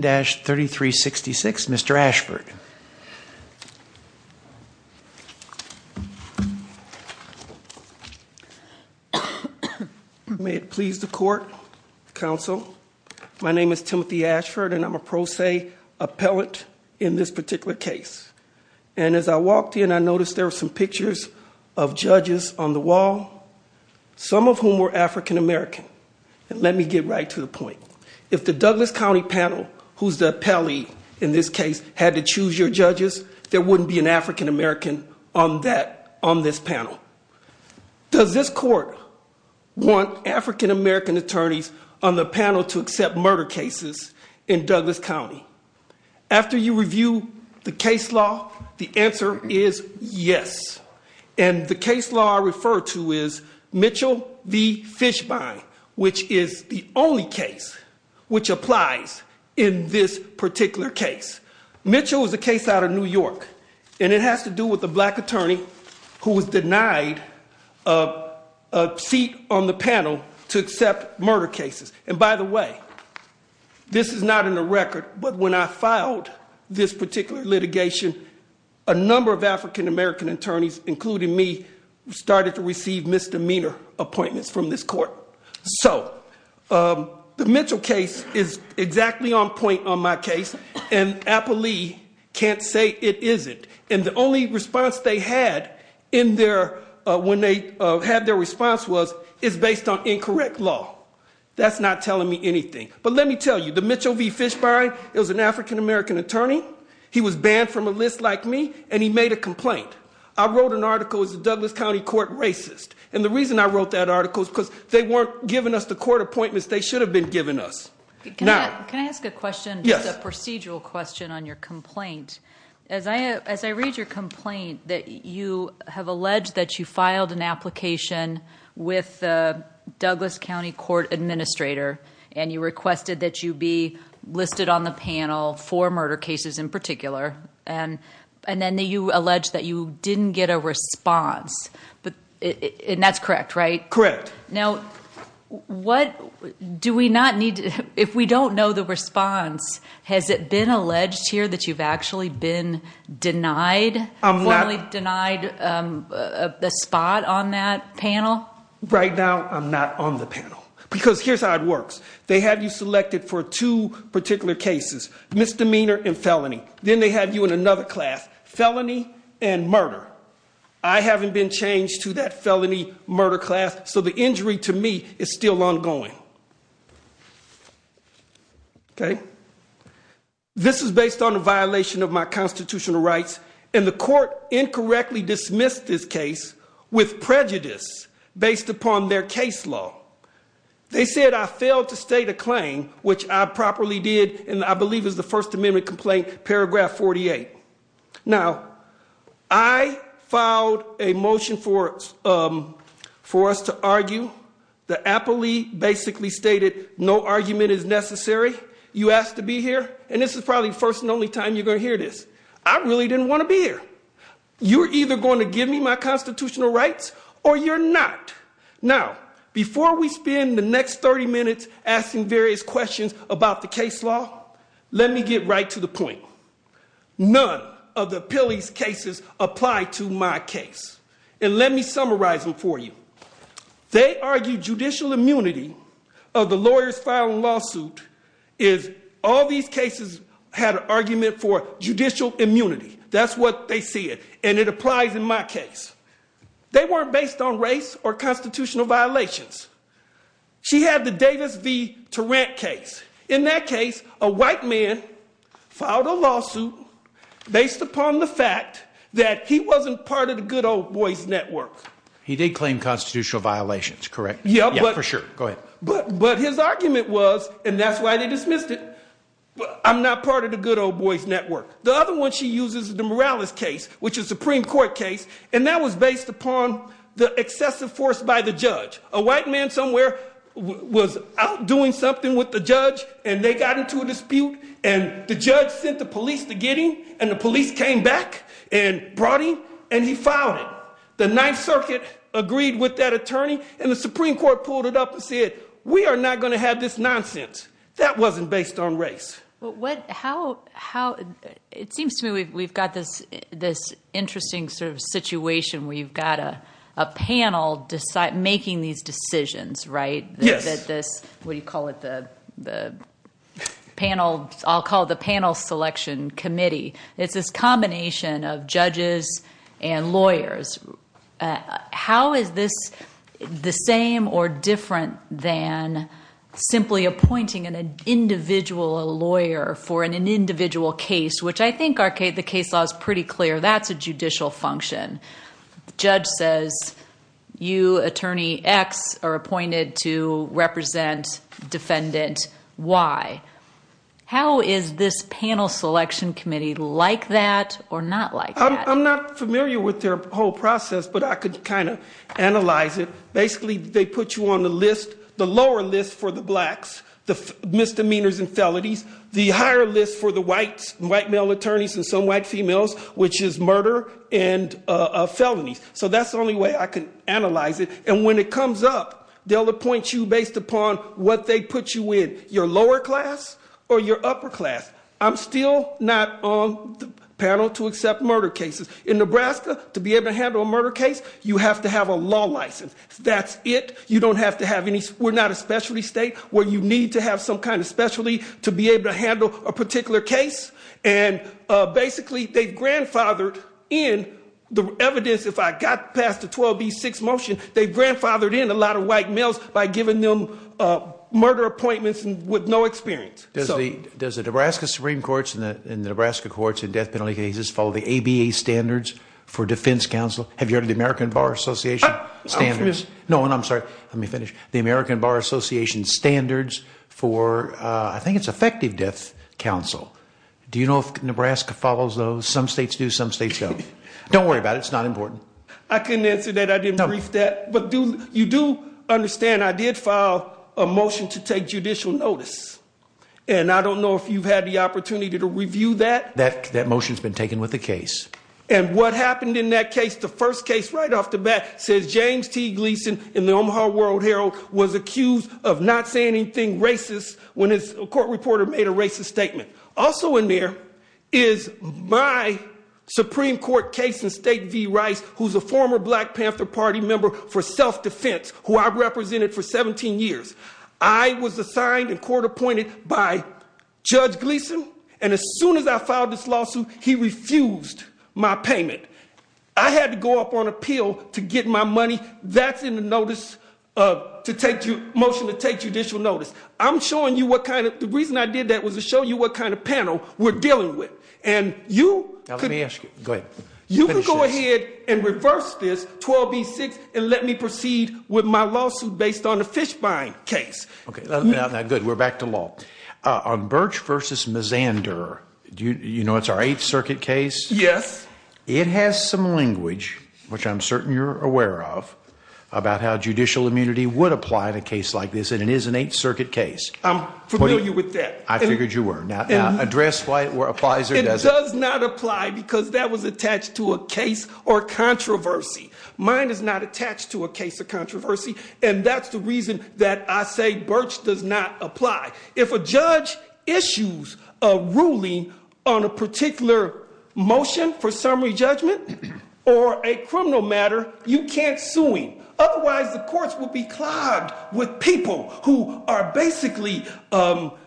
dash 3366 Mr. Ashford May it please the court counsel my name is Timothy Ashford and I'm a pro se appellate in this particular case and as I walked in I noticed there were some pictures of judges on the wall some of whom were african-american and let me get right to the point if the Douglas County panel who's the pally in this case had to choose your judges there wouldn't be an african-american on that on this panel does this court want african-american attorneys on the panel to accept murder cases in Douglas County after you review the case law the answer is yes and the case law referred to is Mitchell the case which applies in this particular case Mitchell was the case out of New York and it has to do with the black attorney who was denied a seat on the panel to accept murder cases and by the way this is not in the record but when I filed this particular litigation a number of african-american attorneys including me started to receive misdemeanor appointments from this court so the Mitchell case is exactly on point on my case and Appley can't say it isn't in the only response they had in there when they had their response was it's based on incorrect law that's not telling me anything but let me tell you the Mitchell v. Fishbein is an african-american attorney he was banned from a list like me and he made a complaint I wrote an article is the Douglas County Court racist and the reason I wrote that article is because they weren't giving us the court appointments they should have been given us now can I ask a question yes a procedural question on your complaint as I as I read your complaint that you have alleged that you filed an application with Douglas County Court Administrator and you requested that you be listed on the panel for murder cases in particular and and then they you allege that you didn't get a response but and that's correct right correct now what do we not need if we don't know the response has it been alleged here that you've actually been denied I'm not only denied the spot on that panel right now I'm not on the panel because here's how it works they had you selected for two particular cases misdemeanor and felony then they have you in another class felony and murder I haven't been changed to that felony murder class so the injury to me is still ongoing okay this is based on a violation of my constitutional rights and the court incorrectly dismissed this case with prejudice based upon their case law they said I failed to state a claim which I properly did and I believe is the First Amendment complaint paragraph 48 now I filed a motion for us for us to argue the Apple II basically stated no argument is necessary you asked to be here and this is probably first and only time you're going to hear this I really didn't want to be here you're either going to give me my constitutional rights or you're not now before we spend the next 30 minutes asking various questions about the case law let me get right to the point none of the pillies cases apply to my case and let me summarize them for you they argued judicial immunity of the lawyers filing lawsuit is all these cases had an argument for judicial immunity that's what they see it and it applies in my case they weren't based on constitutional violations she had the Davis V to rent case in that case a white man filed a lawsuit based upon the fact that he wasn't part of the good old boys network he did claim constitutional violations correct yeah but for sure go ahead but but his argument was and that's why they dismissed it I'm not part of the good old boys network the other one she uses the Morales case which is Supreme Court case and that was based upon the excessive force by the judge a white man somewhere was out doing something with the judge and they got into a dispute and the judge sent the police to get him and the police came back and brought him and he filed it the Ninth Circuit agreed with that attorney and the Supreme Court pulled it up and said we are not going to have this nonsense that wasn't based on race what how how it seems to me we've got this this interesting sort of situation where you've got a panel decide making these decisions right yes that this what do you call it the the panel I'll call the panel selection committee it's this combination of judges and lawyers how is this the same or different than simply appointing an individual lawyer for an individual case which I think arcade the case law is pretty clear that's a judicial function judge says you attorney X are appointed to represent defendant why how is this panel selection committee like that or not like I'm not familiar with their whole process but I could kind of analyze it basically they put you on the list the lower list for the blacks the misdemeanors and felonies the higher list for the whites white male attorneys and some white females which is murder and felonies so that's the only way I can analyze it and when it comes up they'll appoint you based upon what they put you in your lower class or your upper class I'm still not on the panel to accept murder cases in Nebraska to be able to handle a murder case you have to have a law license that's it you don't have to have any we're not a specialty state where you need to have some kind of specialty to be able to handle a particular case and basically they've grandfathered in the evidence if I got past the 12b6 motion they've grandfathered in a lot of white males by giving them murder appointments and with no experience does the does the Nebraska Supreme Court's in the Nebraska courts and death penalty cases follow the ABA standards for defense counsel have you heard of the American Bar Association standards no and I'm sorry let me finish the American Bar Association standards for I think it's effective death counsel do you know if Nebraska follows those some states do some states don't don't worry about it it's not important I couldn't answer that I didn't know if that but do you do understand I did file a motion to take judicial notice and I don't know if you've had the opportunity to review that that that motions been taken with the case and what happened in that case the first case right off the bat says James T. Gleason in the Omaha World-Herald was accused of not saying anything racist when his court reporter made a racist statement also in there is my Supreme Court case in state v. Rice who's a former Black Panther Party member for self-defense who I represented for 17 years I was assigned and court-appointed by Judge Gleason and as soon as I filed this lawsuit he refused my payment I had to go up on appeal to get my money that's in the notice of to take you motion to take judicial notice I'm showing you what kind of the reason I did that was to show you what kind of panel we're dealing with and you let me ask you good you can go ahead and reverse this 12 b6 and let me proceed with my lawsuit based on the fish buying case okay good we're back to law on Birch vs. Mazander do you know it's our 8th Circuit case yes it has some language which I'm certain you're aware of about how judicial immunity would apply in a case like this and it is an 8th Circuit case I'm familiar with that I figured you were now address why it were applies it does not apply because that was attached to a case or controversy mine is not attached to a case of controversy and that's the reason that I say Birch does not apply if a judge issues a ruling on a particular motion for summary judgment or a criminal matter you can't suing otherwise the courts will be clogged with people who are basically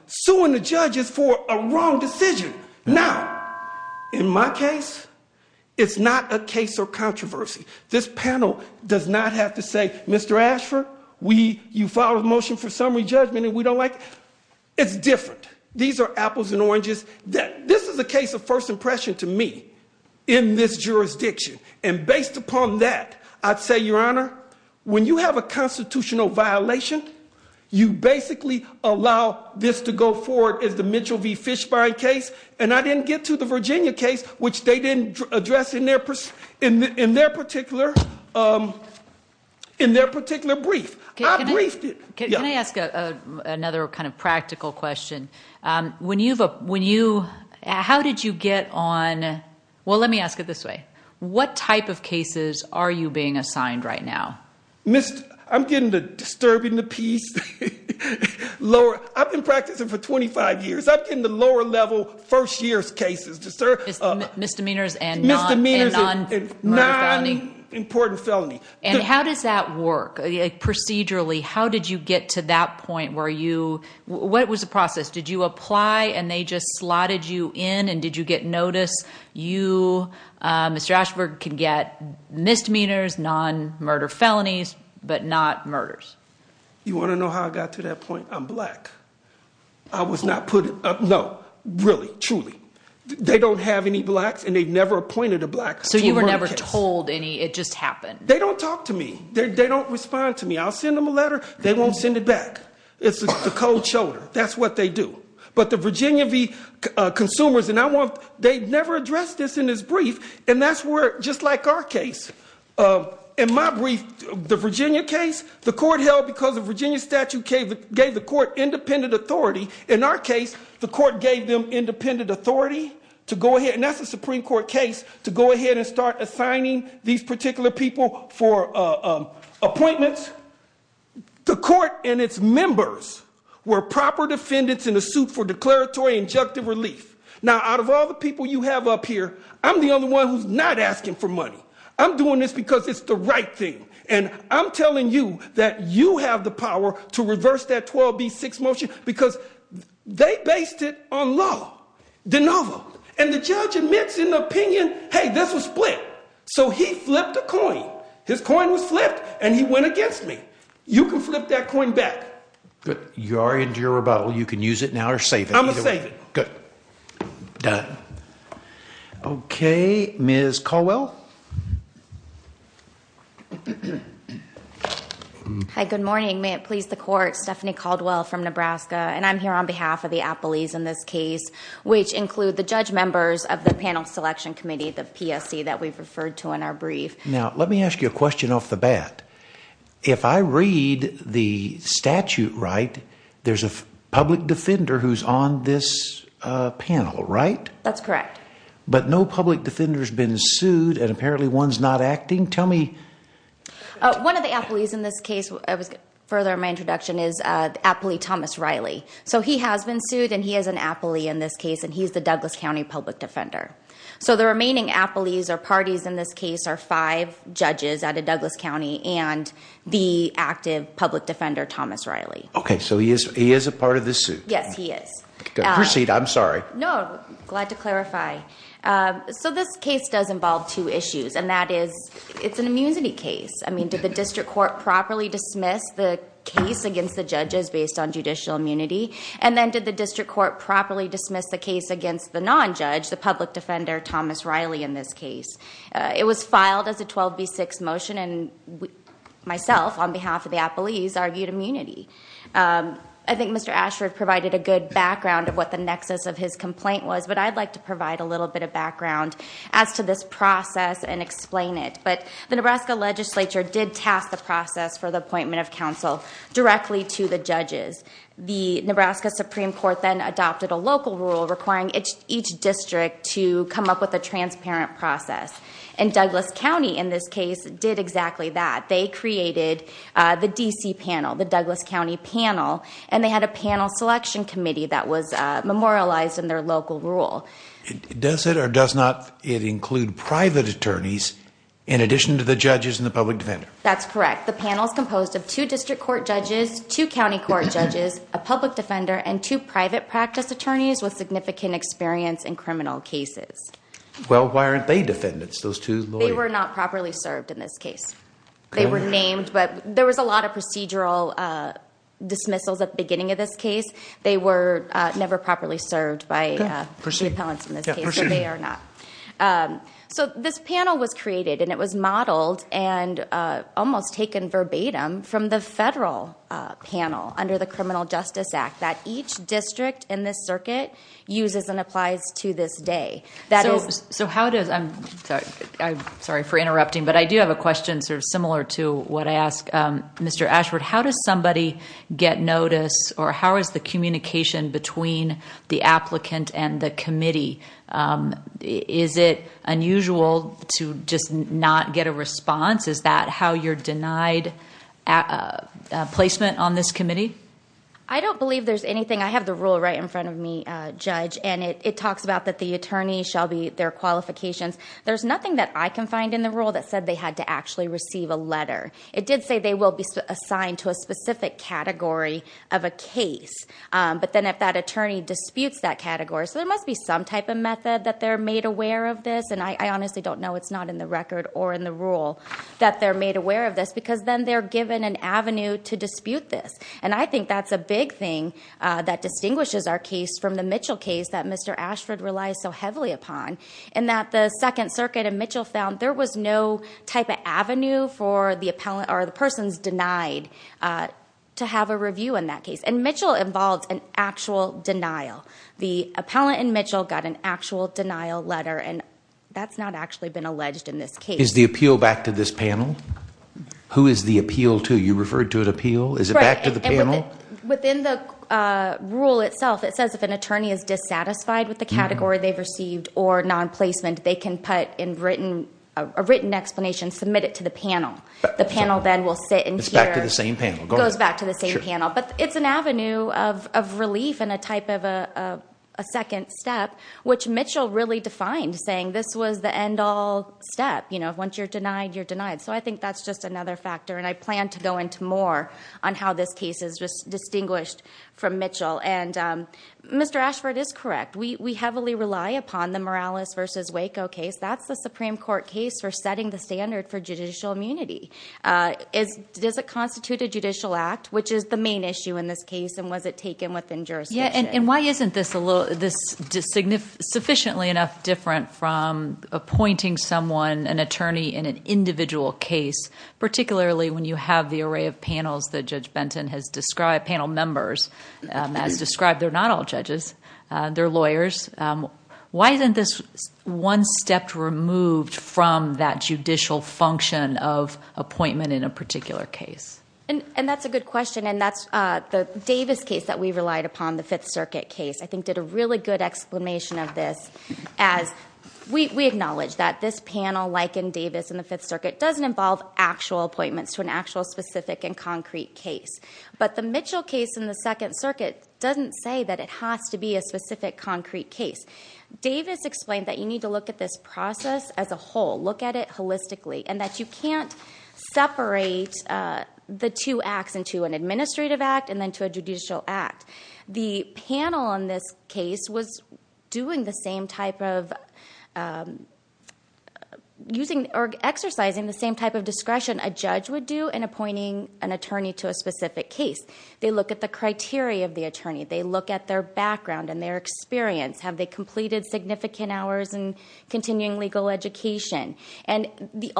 suing the judges for a wrong decision now in my case it's not a case or controversy this panel does not have to say mr. Ashford we you follow the motion for summary judgment and we don't like it's different these are apples and oranges that this is a case of first impression to me in this jurisdiction and based upon that I'd say your honor when you have a constitutional violation you basically allow this to go forward as the Mitchell v fish buying case and I didn't get to the Virginia case which they didn't address in their purse in their particular in their particular brief I briefed it can I ask another kind of practical question when you've a when you how did you get on well let me ask it this way what type of cases are you being assigned right now mr. I'm getting the disturbing the piece Laura I've been practicing for 25 years I've been the lower level first years cases to serve misdemeanors and misdemeanors and non-important felony and how does that work procedurally how did you get to that point where you what was the process did you apply and they just slotted you in and did you get notice you mr. Ashford can get misdemeanors non-murder felonies but not murders you want to know how I got to that point I'm black I was not put no really truly they don't have any blacks and they've never appointed a black so you were never told any it just happened they don't talk to me they don't respond to me I'll send them a letter they won't send it back it's the cold shoulder that's what they do but the Virginia V consumers and I want they've never addressed this in his brief and that's where just like our case in my brief the Virginia case the court held because of Virginia statute gave it gave the court independent authority in our case the court gave them independent authority to go ahead and that's the Supreme Court case to go ahead and start assigning these particular people for appointments the court and its members were proper defendants in a suit for declaratory injunctive relief now out of all the people you have up here I'm the only one who's not asking for money I'm doing this because it's the right thing and I'm telling you that you have the power to reverse that 12b6 motion because they based it on law the novel and the judge admits in the opinion hey this was split so he flipped a coin his coin was flipped and he went against me you can flip that coin back but you are into your rebuttal you can use it now or save it I'm gonna say good done okay ms. Caldwell hi good morning may it please the court Stephanie Caldwell from Nebraska and I'm here on behalf of the Apple ease in this case which include the judge members of the panel selection committee the PSC that we've referred to in our brief now let me ask you a question off the bat if I read the statute right there's a public defender who's on this panel right that's correct but no public defenders been sued and apparently one's not acting tell me one of the Apple ease in this case I was further my introduction is aptly Thomas case and he's the Douglas County public defender so the remaining Apple ease or parties in this case are five judges at a Douglas County and the active public defender Thomas Riley okay so he is he is a part of this suit yes he is proceed I'm sorry no glad to clarify so this case does involve two issues and that is it's an immunity case I mean did the district court properly dismiss the case against the judges based on judicial immunity and then did the district court properly dismiss the case against the non-judge the public defender Thomas Riley in this case it was filed as a 12b6 motion and myself on behalf of the Apple ease argued immunity I think mr. Ashford provided a good background of what the nexus of his complaint was but I'd like to provide a little bit of background as to this process and explain it but the Nebraska legislature did task the process for the appointment of counsel directly to the judges the local rule requiring each district to come up with a transparent process and Douglas County in this case did exactly that they created the DC panel the Douglas County panel and they had a panel selection committee that was memorialized in their local rule does it or does not it include private attorneys in addition to the judges in the public defender that's correct the panel is composed of two district court judges two county court judges a public defender and two private practice attorneys with significant experience in criminal cases well why aren't they defendants those two they were not properly served in this case they were named but there was a lot of procedural dismissals at the beginning of this case they were never properly served by pursuing talents in this case they are not so this panel was created and it was modeled and almost taken verbatim from the federal panel under the Criminal Justice Act that each district in this circuit uses and applies to this day that is so how does I'm sorry for interrupting but I do have a question sort of similar to what I asked mr. Ashford how does somebody get notice or how is the communication between the applicant and the committee is it unusual to just not get a response is that how you're denied a placement on this committee I don't believe there's anything I have the rule right in front of me judge and it talks about that the attorney shall be their qualifications there's nothing that I can find in the rule that said they had to actually receive a letter it did say they will be assigned to a specific category of a case but then if that attorney disputes that category so there must be some type of method that they're made aware of this and I honestly don't know it's not in the record or in the rule that they're made aware of this because then they're given an avenue to dispute this and I think that's a big thing that distinguishes our case from the Mitchell case that mr. Ashford relies so heavily upon and that the Second Circuit and Mitchell found there was no type of avenue for the appellant or the persons denied to have a review in that case and Mitchell involved an actual denial the appellant and Mitchell got an actual denial letter and that's not actually been alleged in this case is the appeal back to this panel who is the appeal to you referred to it appeal is it back to the panel within the rule itself it says if an attorney is dissatisfied with the category they've received or non-placement they can put in written a written explanation submit it to the panel the panel then we'll sit and it's back to the same panel goes back to the same panel but it's an avenue of relief and a type of a second step which Mitchell really defined saying this was the end all step you know once you're denied you're denied so I think that's just another factor and I plan to go into more on how this case is just distinguished from Mitchell and mr. Ashford is correct we we heavily rely upon the Morales versus Waco case that's the Supreme Court case for setting the standard for judicial immunity is does it constitute a judicial act which is the main issue in this case and was it taken within jurisdiction and why isn't this a little this to signify sufficiently enough different from appointing someone an attorney in an individual case particularly when you have the array of panels that judge Benton has described panel members as described they're not all judges they're lawyers why isn't this one step removed from that judicial function of appointment in a particular case and and that's a good question and that's the Davis case that we relied upon the circuit case I think did a really good explanation of this as we acknowledge that this panel like in Davis in the Fifth Circuit doesn't involve actual appointments to an actual specific and concrete case but the Mitchell case in the Second Circuit doesn't say that it has to be a specific concrete case Davis explained that you need to look at this process as a whole look at it holistically and that you can't separate the two acts into an administrative act and then to a judicial act the panel on this case was doing the same type of using or exercising the same type of discretion a judge would do in appointing an attorney to a specific case they look at the criteria of the attorney they look at their background and their experience have they completed significant hours and continuing legal education and the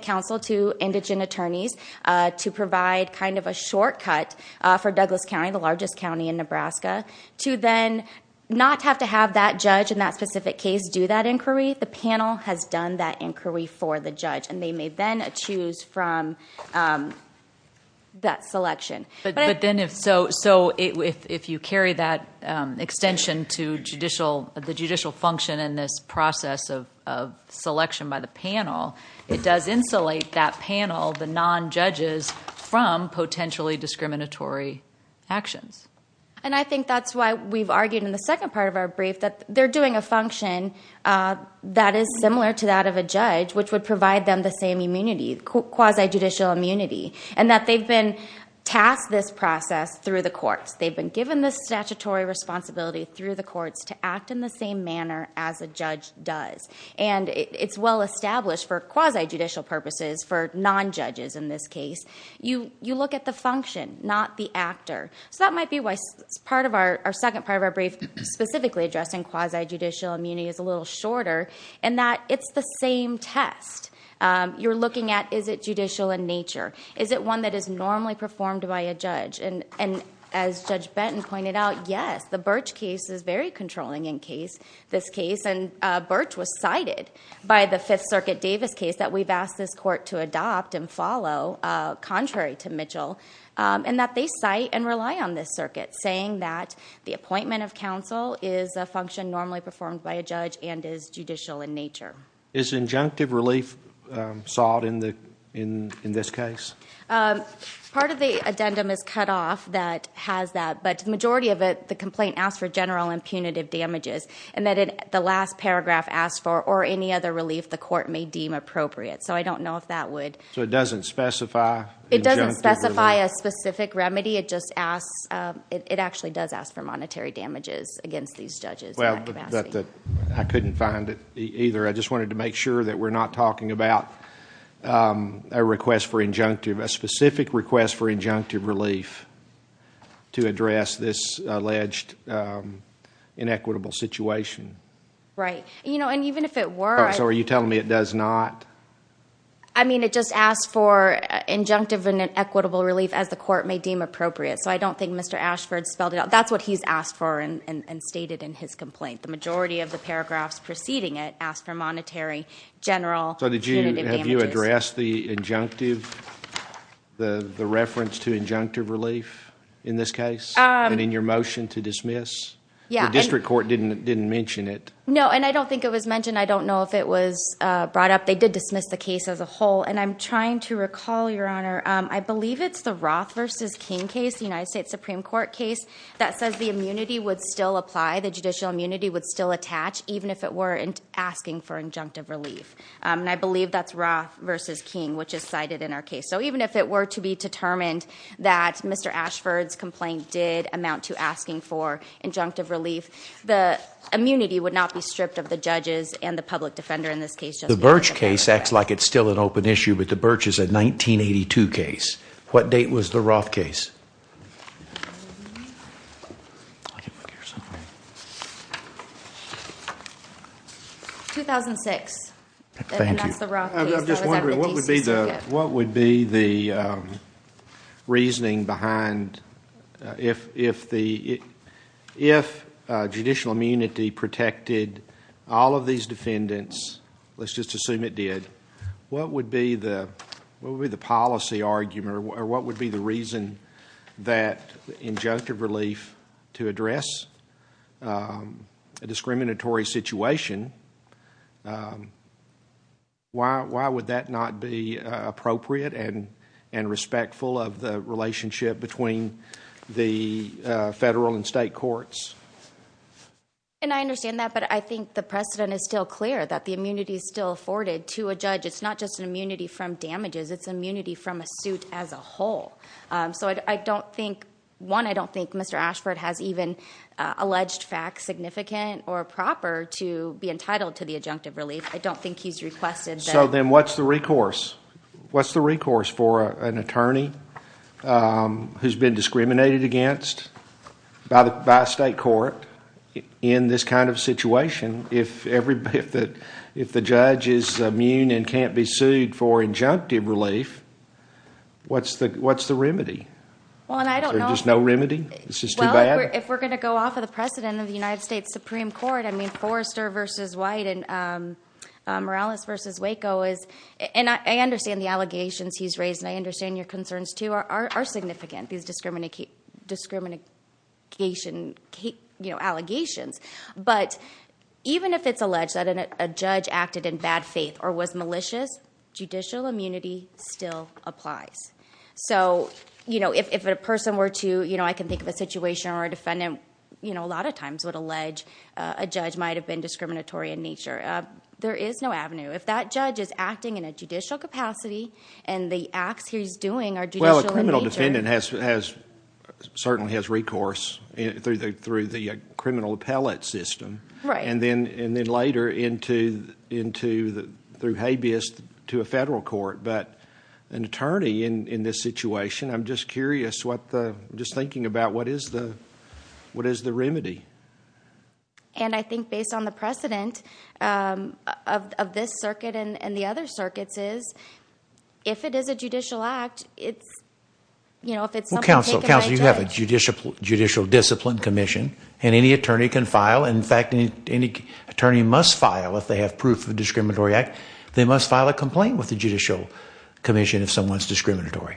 counsel to indigent attorneys to provide kind of a shortcut for Douglas County the largest county in Nebraska to then not have to have that judge in that specific case do that inquiry the panel has done that inquiry for the judge and they may then choose from that selection but then if so so if you carry that extension to judicial the judicial function in this process of selection by the panel it does insulate that panel the non judges from potentially discriminatory actions and I think that's why we've argued in the second part of our brief that they're doing a function that is similar to that of a judge which would provide them the same immunity quasi judicial immunity and that they've been tasked this process through the courts they've been given the statutory responsibility through the courts to act in the same manner as a for quasi judicial purposes for non judges in this case you you look at the function not the actor so that might be why it's part of our second part of our brief specifically addressing quasi judicial immunity is a little shorter and that it's the same test you're looking at is it judicial in nature is it one that is normally performed by a judge and and as judge Benton pointed out yes the birch case is very controlling in case this case and birch was cited by the Fifth Circuit Davis case that we've asked this court to adopt and follow contrary to Mitchell and that they cite and rely on this circuit saying that the appointment of counsel is a function normally performed by a judge and is judicial in nature is injunctive relief sought in the in in this case part of the addendum is cut off that has that but the majority of it the complaint asked for general and punitive damages and that in the last paragraph asked for or any other relief the court may deem appropriate so I don't know if that would so it doesn't specify it doesn't specify a specific remedy it just asks it actually does ask for monetary damages against these judges well that I couldn't find it either I just wanted to make sure that we're not talking about a request for injunctive a specific request for inequitable situation right you know and even if it were so are you telling me it does not I mean it just asked for injunctive and an equitable relief as the court may deem appropriate so I don't think mr. Ashford spelled it out that's what he's asked for and stated in his complaint the majority of the paragraphs preceding it asked for monetary general so did you have you address the injunctive the the reference to injunctive relief in this case and in your motion to dismiss yeah district court didn't didn't mention it no and I don't think it was mentioned I don't know if it was brought up they did dismiss the case as a whole and I'm trying to recall your honor I believe it's the Roth vs. King case the United States Supreme Court case that says the immunity would still apply the judicial immunity would still attach even if it were in asking for injunctive relief and I believe that's Roth vs. King which is cited in our case so even if it were to be determined that mr. Ashford's amount to asking for injunctive relief the immunity would not be stripped of the judges and the public defender in this case the birch case acts like it's still an open issue but the birch is a 1982 case what date was the Roth case 2006 what would be the what would be the reasoning behind if if the if judicial immunity protected all of these defendants let's just assume it did what would be the what would be the policy argument or what would be the reason that injunctive relief to address a discriminatory situation why would that not be appropriate and and respectful of the federal and state courts and I understand that but I think the precedent is still clear that the immunity is still afforded to a judge it's not just an immunity from damages its immunity from a suit as a whole so I don't think one I don't think mr. Ashford has even alleged facts significant or proper to be entitled to the injunctive relief I don't think he's requested so then what's the recourse what's the recourse for an attorney who's been discriminated against by the by a state court in this kind of situation if everybody if that if the judge is immune and can't be sued for injunctive relief what's the what's the remedy well and I don't know there's no remedy this is too bad if we're gonna go off of the precedent of the United States Supreme Court I mean Forrester versus white and Morales versus Waco is and I understand the allegations he's raised and I understand your concerns too are significant these discriminate keep discrimination Kate you know allegations but even if it's alleged that a judge acted in bad faith or was malicious judicial immunity still applies so you know if a person were to you know I can think of a situation or a defendant you know a lot of times would allege a judge might have been discriminatory in nature there is no avenue if that judge is in a judicial capacity and the acts he's doing are well a criminal defendant has has certainly has recourse through the through the criminal appellate system right and then and then later into into the through habeas to a federal court but an attorney in in this situation I'm just curious what the just thinking about what is the what is the remedy and I think based on the of this circuit and the other circuits is if it is a judicial act it's you know if it's counsel counsel you have a judicial judicial discipline Commission and any attorney can file in fact any attorney must file if they have proof of discriminatory act they must file a complaint with the judicial commission if someone's discriminatory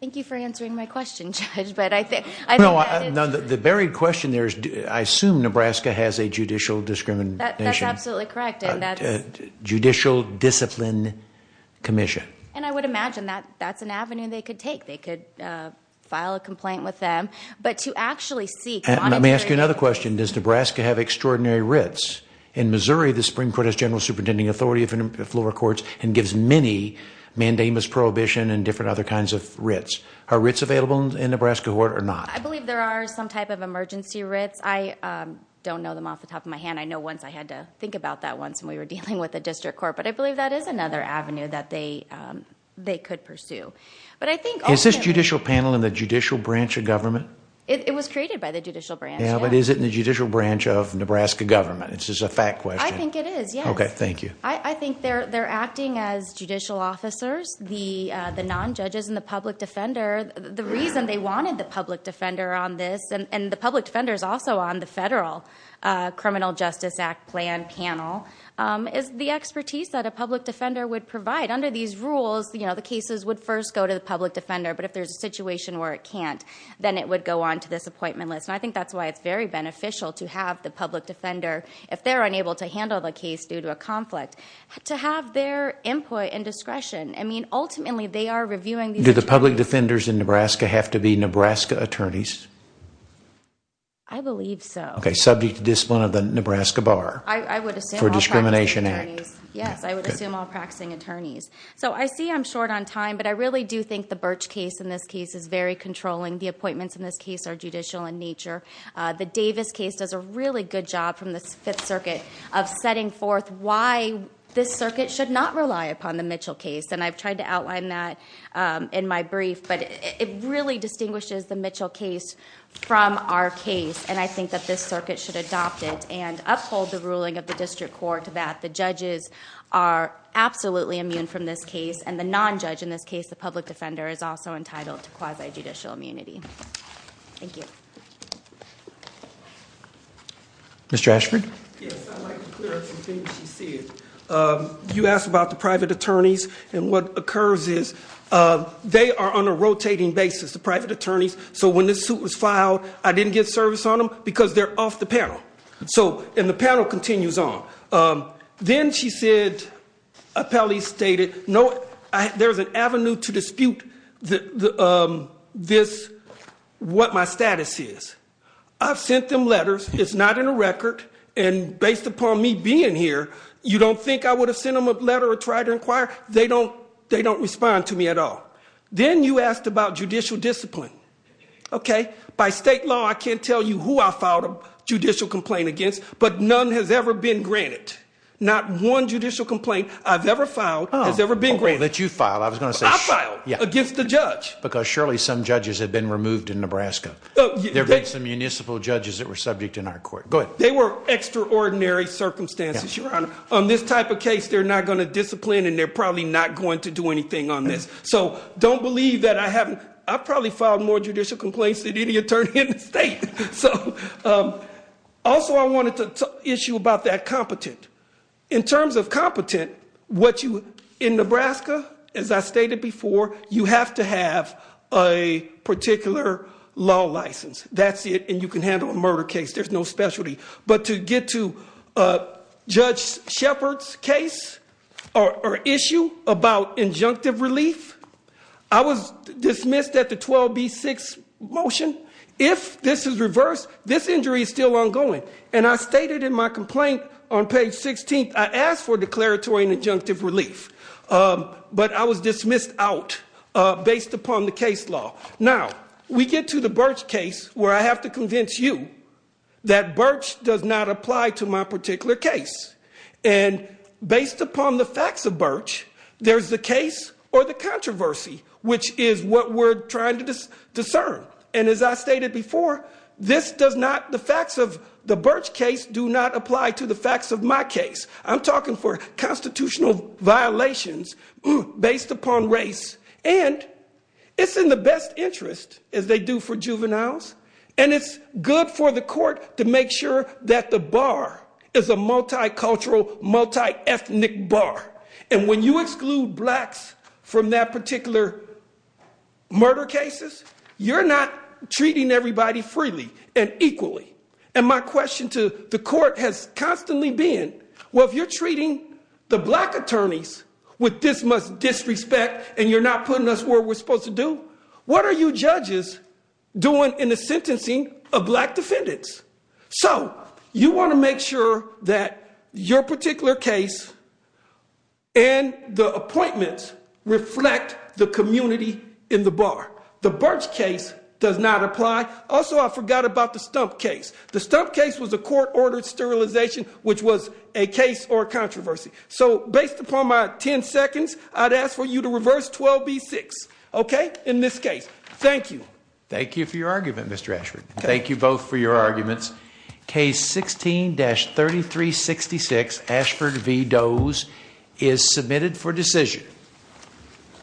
thank you for answering my question judge but I think I know I know that the buried question there's I assume Nebraska has a discrimination absolutely correct and that judicial discipline Commission and I would imagine that that's an avenue they could take they could file a complaint with them but to actually see and let me ask you another question does Nebraska have extraordinary writs in Missouri the Supreme Court has general superintending authority of floor courts and gives many mandamus prohibition and different other kinds of writs are writs available in Nebraska court or not I believe there are some type of emergency writs I don't know them off the top of hand I know once I had to think about that once and we were dealing with the district court but I believe that is another Avenue that they they could pursue but I think is this judicial panel in the judicial branch of government it was created by the judicial branch now but is it in the judicial branch of Nebraska government it's just a fact way I think it is okay thank you I think they're they're acting as judicial officers the the non-judges and the public defender the reason they wanted the public defender on this and the public defenders also on the federal Criminal Justice Act plan panel is the expertise that a public defender would provide under these rules you know the cases would first go to the public defender but if there's a situation where it can't then it would go on to this appointment list I think that's why it's very beneficial to have the public defender if they're unable to handle the case due to a conflict to have their input and discretion I mean ultimately they are reviewing do the public defenders in Nebraska have to be Nebraska attorneys I believe so okay subject to discipline of the Nebraska bar I would assume for Discrimination Act yes I would assume all practicing attorneys so I see I'm short on time but I really do think the birch case in this case is very controlling the appointments in this case are judicial in nature the Davis case does a really good job from the Fifth Circuit of setting forth why this circuit should not rely upon the Mitchell case and I've really distinguishes the Mitchell case from our case and I think that this circuit should adopt it and uphold the ruling of the district court that the judges are absolutely immune from this case and the non-judge in this case the public defender is also entitled to quasi-judicial immunity mr. Ashford you asked about the private attorneys and what occurs is they are on a rotating basis the private attorneys so when this suit was filed I didn't get service on them because they're off the panel so in the panel continues on then she said a Pele stated no I there's an avenue to dispute the this what my status is I've sent them letters it's not in a record and based upon me being here you don't think I would have sent them a letter or try to inquire they don't they don't respond to me at all then you asked about judicial discipline okay by state law I can't tell you who I filed a judicial complaint against but none has ever been granted not one judicial complaint I've ever filed has ever been great that you filed I was gonna say I filed yeah against the judge because surely some judges have been removed in Nebraska oh there's a municipal judges that were subject in our court good they were extraordinary circumstances your honor on this type of case they're not going to discipline and they're probably not going to do anything on this so don't believe that I haven't I probably filed more judicial complaints than any attorney in the state so also I wanted to issue about that competent in terms of competent what you in Nebraska as I stated before you have to have a particular law license that's it and you can handle a murder case there's no specialty but to judge Shepard's case or issue about injunctive relief I was dismissed at the 12b6 motion if this is reversed this injury is still ongoing and I stated in my complaint on page 16th I asked for declaratory and injunctive relief but I was dismissed out based upon the case law now we get to the birch case where I apply to my particular case and based upon the facts of birch there's the case or the controversy which is what we're trying to discern and as I stated before this does not the facts of the birch case do not apply to the facts of my case I'm talking for constitutional violations based upon race and it's in the best interest as they do for juveniles and it's good for the court to make sure that the bar is a multicultural multi-ethnic bar and when you exclude blacks from that particular murder cases you're not treating everybody freely and equally and my question to the court has constantly been what you're treating the black attorneys with this much disrespect and you're not putting us where we're supposed to do what are you judges doing in the sentencing of black defendants so you want to make sure that your particular case and the appointments reflect the community in the bar the birch case does not apply also I forgot about the stump case the stump case was a court-ordered sterilization which was a case or controversy so based upon my 10 seconds I'd ask for you to reverse 12b6 okay in this case thank you thank you for your argument mr. Ashford thank you both for your arguments case 16-33 66 Ashford v Doe's is submitted for decision